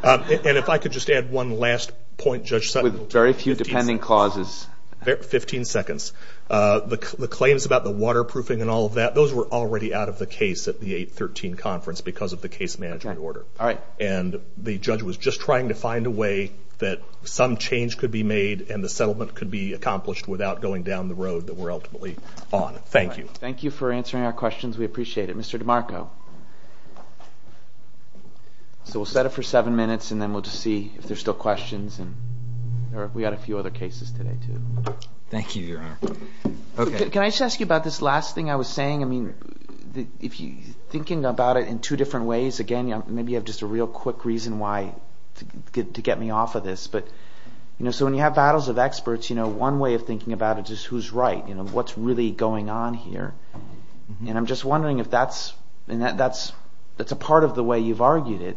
And if I could just add one last point, Judge Sutton. With very few depending clauses. Fifteen seconds. The claims about the waterproofing and all of that, those were already out of the case at the 813 conference because of the case management order. And the judge was just trying to find a way that some change could be made and the settlement could be accomplished without going down the road that we're ultimately on. Thank you. Thank you for answering our questions. We appreciate it. Mr. DeMarco. So we'll set it for seven minutes, and then we'll just see if there's still questions. We've got a few other cases today, too. Thank you, Your Honor. Can I just ask you about this last thing I was saying? I mean, if you're thinking about it in two different ways, again, maybe you have just a real quick reason to get me off of this. So when you have battles of experts, one way of thinking about it is who's right. What's really going on here? And I'm just wondering if that's a part of the way you've argued it.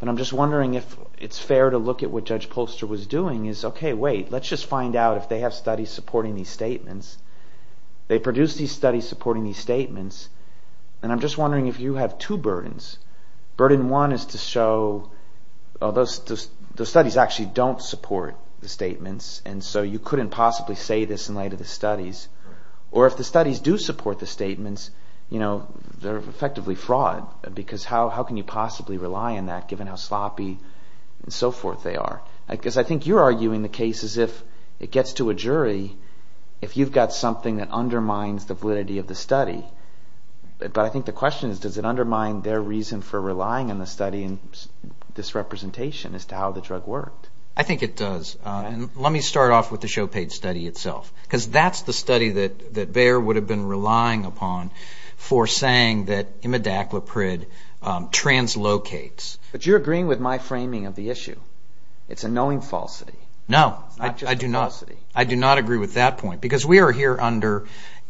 But I'm just wondering if it's fair to look at what Judge Polster was doing. Okay, wait, let's just find out if they have studies supporting these statements. They produced these studies supporting these statements. And I'm just wondering if you have two burdens. Burden one is to show those studies actually don't support the statements, and so you couldn't possibly say this in light of the studies. Or if the studies do support the statements, they're effectively fraud, because how can you possibly rely on that given how sloppy and so forth they are? Because I think you're arguing the case as if it gets to a jury if you've got something that undermines the validity of the study. But I think the question is, does it undermine their reason for relying on the study and disrepresentation as to how the drug worked? I think it does. And let me start off with the Chopate study itself, because that's the study that Bayer would have been relying upon for saying that imidacloprid translocates. But you're agreeing with my framing of the issue. It's a knowing falsity. No, I do not. It's not just a falsity. I do not agree with that point, because we are here under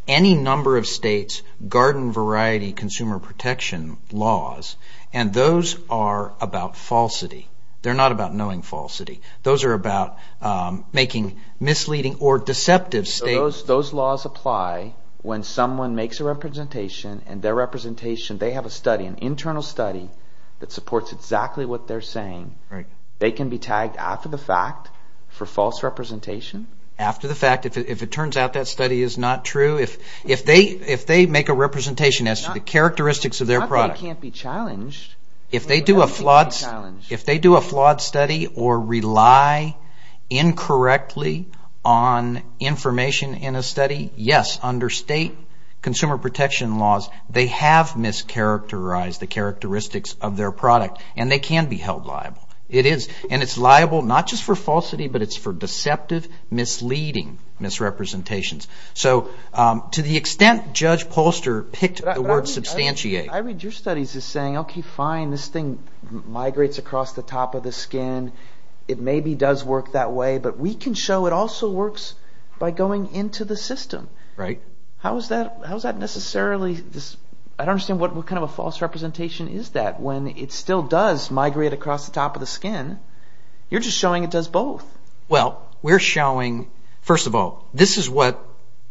any number of states' garden variety consumer protection laws, and those are about falsity. They're not about knowing falsity. Those are about making misleading or deceptive statements. So those laws apply when someone makes a representation, and their representation, they have a study, an internal study that supports exactly what they're saying. They can be tagged after the fact for false representation? After the fact. If it turns out that study is not true, if they make a representation as to the characteristics of their product. Not that they can't be challenged. If they do a flawed study or rely incorrectly on information in a study, yes, under state consumer protection laws, they have mischaracterized the characteristics of their product, and they can be held liable. It is, and it's liable not just for falsity, but it's for deceptive, misleading misrepresentations. So to the extent Judge Polster picked the word substantiate. I read your studies as saying, okay, fine, this thing migrates across the top of the skin. It maybe does work that way, but we can show it also works by going into the system. Right. How is that necessarily, I don't understand what kind of a false representation is that when it still does migrate across the top of the skin. You're just showing it does both. Well, we're showing, first of all, this is what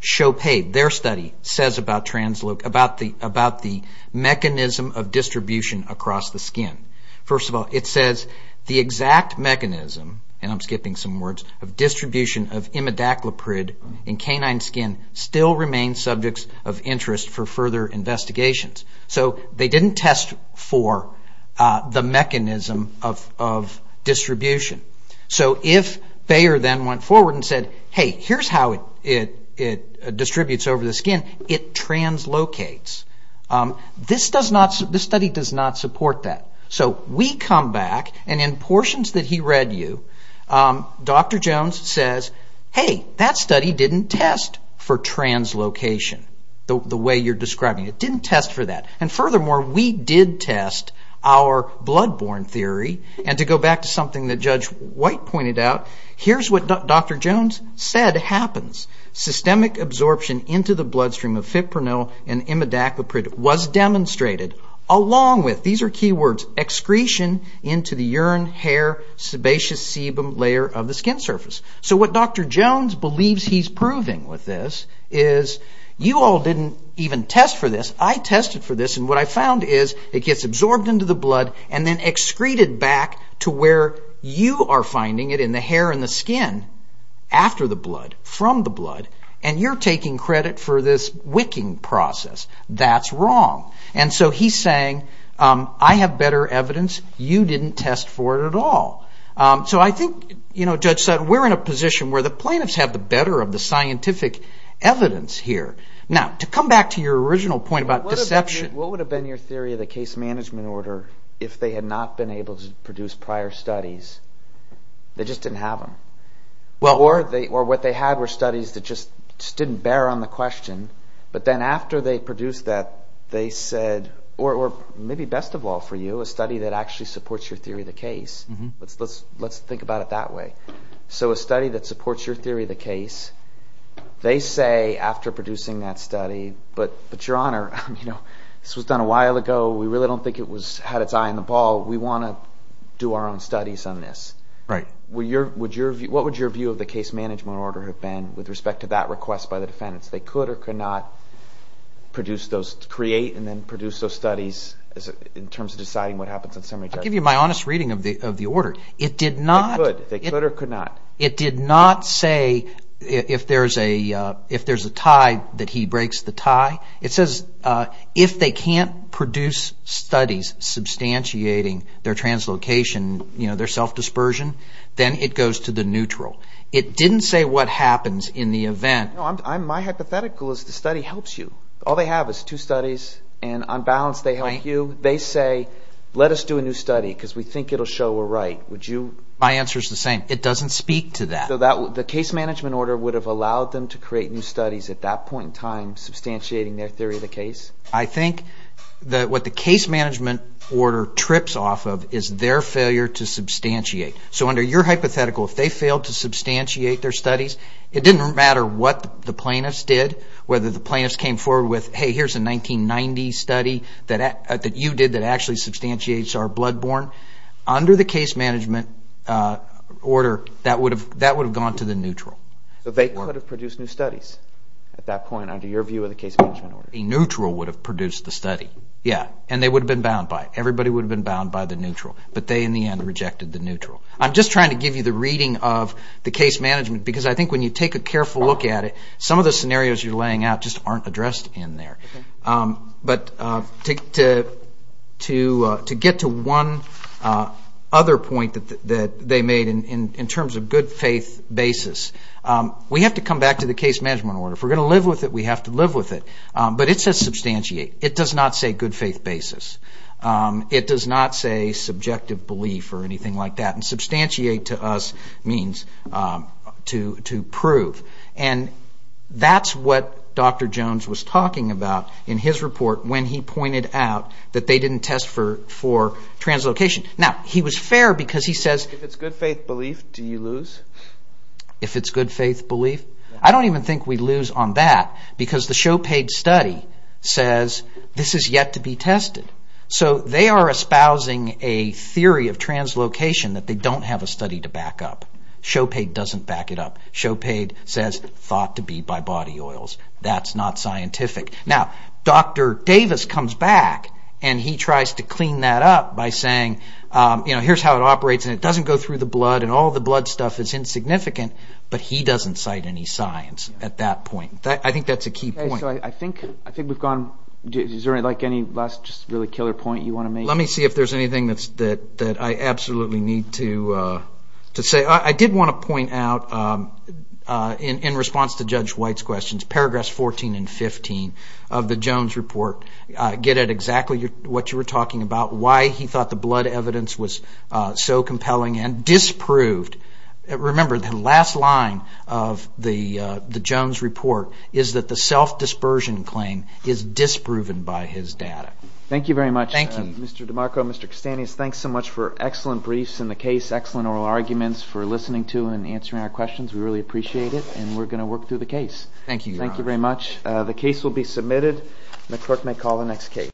CHOPADE, their study, says about the mechanism of distribution across the skin. First of all, it says the exact mechanism, and I'm skipping some words, of distribution of imidacloprid in canine skin still remains subject of interest for further investigations. So they didn't test for the mechanism of distribution. So if Bayer then went forward and said, hey, here's how it distributes over the skin, it translocates. This study does not support that. So we come back, and in portions that he read you, Dr. Jones says, hey, that study didn't test for translocation, the way you're describing it. It didn't test for that. And furthermore, we did test our bloodborne theory. And to go back to something that Judge White pointed out, here's what Dr. Jones said happens. Systemic absorption into the bloodstream of fipronil and imidacloprid was demonstrated along with, these are key words, excretion into the urine, hair, sebaceous, sebum layer of the skin surface. So what Dr. Jones believes he's proving with this is, you all didn't even test for this. I tested for this, and what I found is it gets absorbed into the blood and then excreted back to where you are finding it in the hair and the skin, after the blood, from the blood, and you're taking credit for this wicking process. That's wrong. And so he's saying, I have better evidence. You didn't test for it at all. So I think, Judge Sutton, we're in a position where the plaintiffs have the better of the scientific evidence here. Now, to come back to your original point about deception. What would have been your theory of the case management order if they had not been able to produce prior studies? They just didn't have them. Or what they had were studies that just didn't bear on the question, but then after they produced that, they said, or maybe best of all for you, a study that actually supports your theory of the case. Let's think about it that way. So a study that supports your theory of the case, they say after producing that study, but, Your Honor, this was done a while ago. We really don't think it had its eye on the ball. We want to do our own studies on this. Right. What would your view of the case management order have been with respect to that request by the defendants? They could or could not produce those, create and then produce those studies in terms of deciding what happens in summary. I'll give you my honest reading of the order. It did not. They could or could not. It did not say if there's a tie that he breaks the tie. It says if they can't produce studies substantiating their translocation, their self-dispersion, then it goes to the neutral. It didn't say what happens in the event. My hypothetical is the study helps you. All they have is two studies and on balance they help you. They say let us do a new study because we think it will show we're right. Would you? My answer is the same. It doesn't speak to that. The case management order would have allowed them to create new studies at that point in time substantiating their theory of the case? I think what the case management order trips off of is their failure to substantiate. So under your hypothetical, if they failed to substantiate their studies, it didn't matter what the plaintiffs did, whether the plaintiffs came forward with, hey, here's a 1990 study that you did that actually substantiates our bloodborne. Under the case management order, that would have gone to the neutral. So they could have produced new studies at that point under your view of the case management order? A neutral would have produced the study, yes, and they would have been bound by it. Everybody would have been bound by the neutral, but they in the end rejected the neutral. I'm just trying to give you the reading of the case management because I think when you take a careful look at it, some of the scenarios you're laying out just aren't addressed in there. But to get to one other point that they made in terms of good faith basis, we have to come back to the case management order. If we're going to live with it, we have to live with it. But it says substantiate. It does not say good faith basis. It does not say subjective belief or anything like that. And substantiate to us means to prove. And that's what Dr. Jones was talking about in his report when he pointed out that they didn't test for translocation. Now, he was fair because he says... If it's good faith belief, do you lose? If it's good faith belief? I don't even think we lose on that because the showpaid study says this is yet to be tested. So they are espousing a theory of translocation that they don't have a study to back up. Showpaid doesn't back it up. Showpaid says it's thought to be by body oils. That's not scientific. Now, Dr. Davis comes back and he tries to clean that up by saying, here's how it operates and it doesn't go through the blood and all the blood stuff is insignificant, but he doesn't cite any science at that point. I think that's a key point. I think we've gone... Is there any last killer point you want to make? Let me see if there's anything that I absolutely need to say. I did want to point out, in response to Judge White's questions, paragraphs 14 and 15 of the Jones report get at exactly what you were talking about, why he thought the blood evidence was so compelling and disproved. Remember, the last line of the Jones report is that the self-dispersion claim is disproven by his data. Thank you very much, Mr. DiMarco and Mr. Castanis. Thanks so much for excellent briefs in the case, excellent oral arguments for listening to and answering our questions. We really appreciate it and we're going to work through the case. Thank you. Thank you very much. The case will be submitted. The court may call the next case.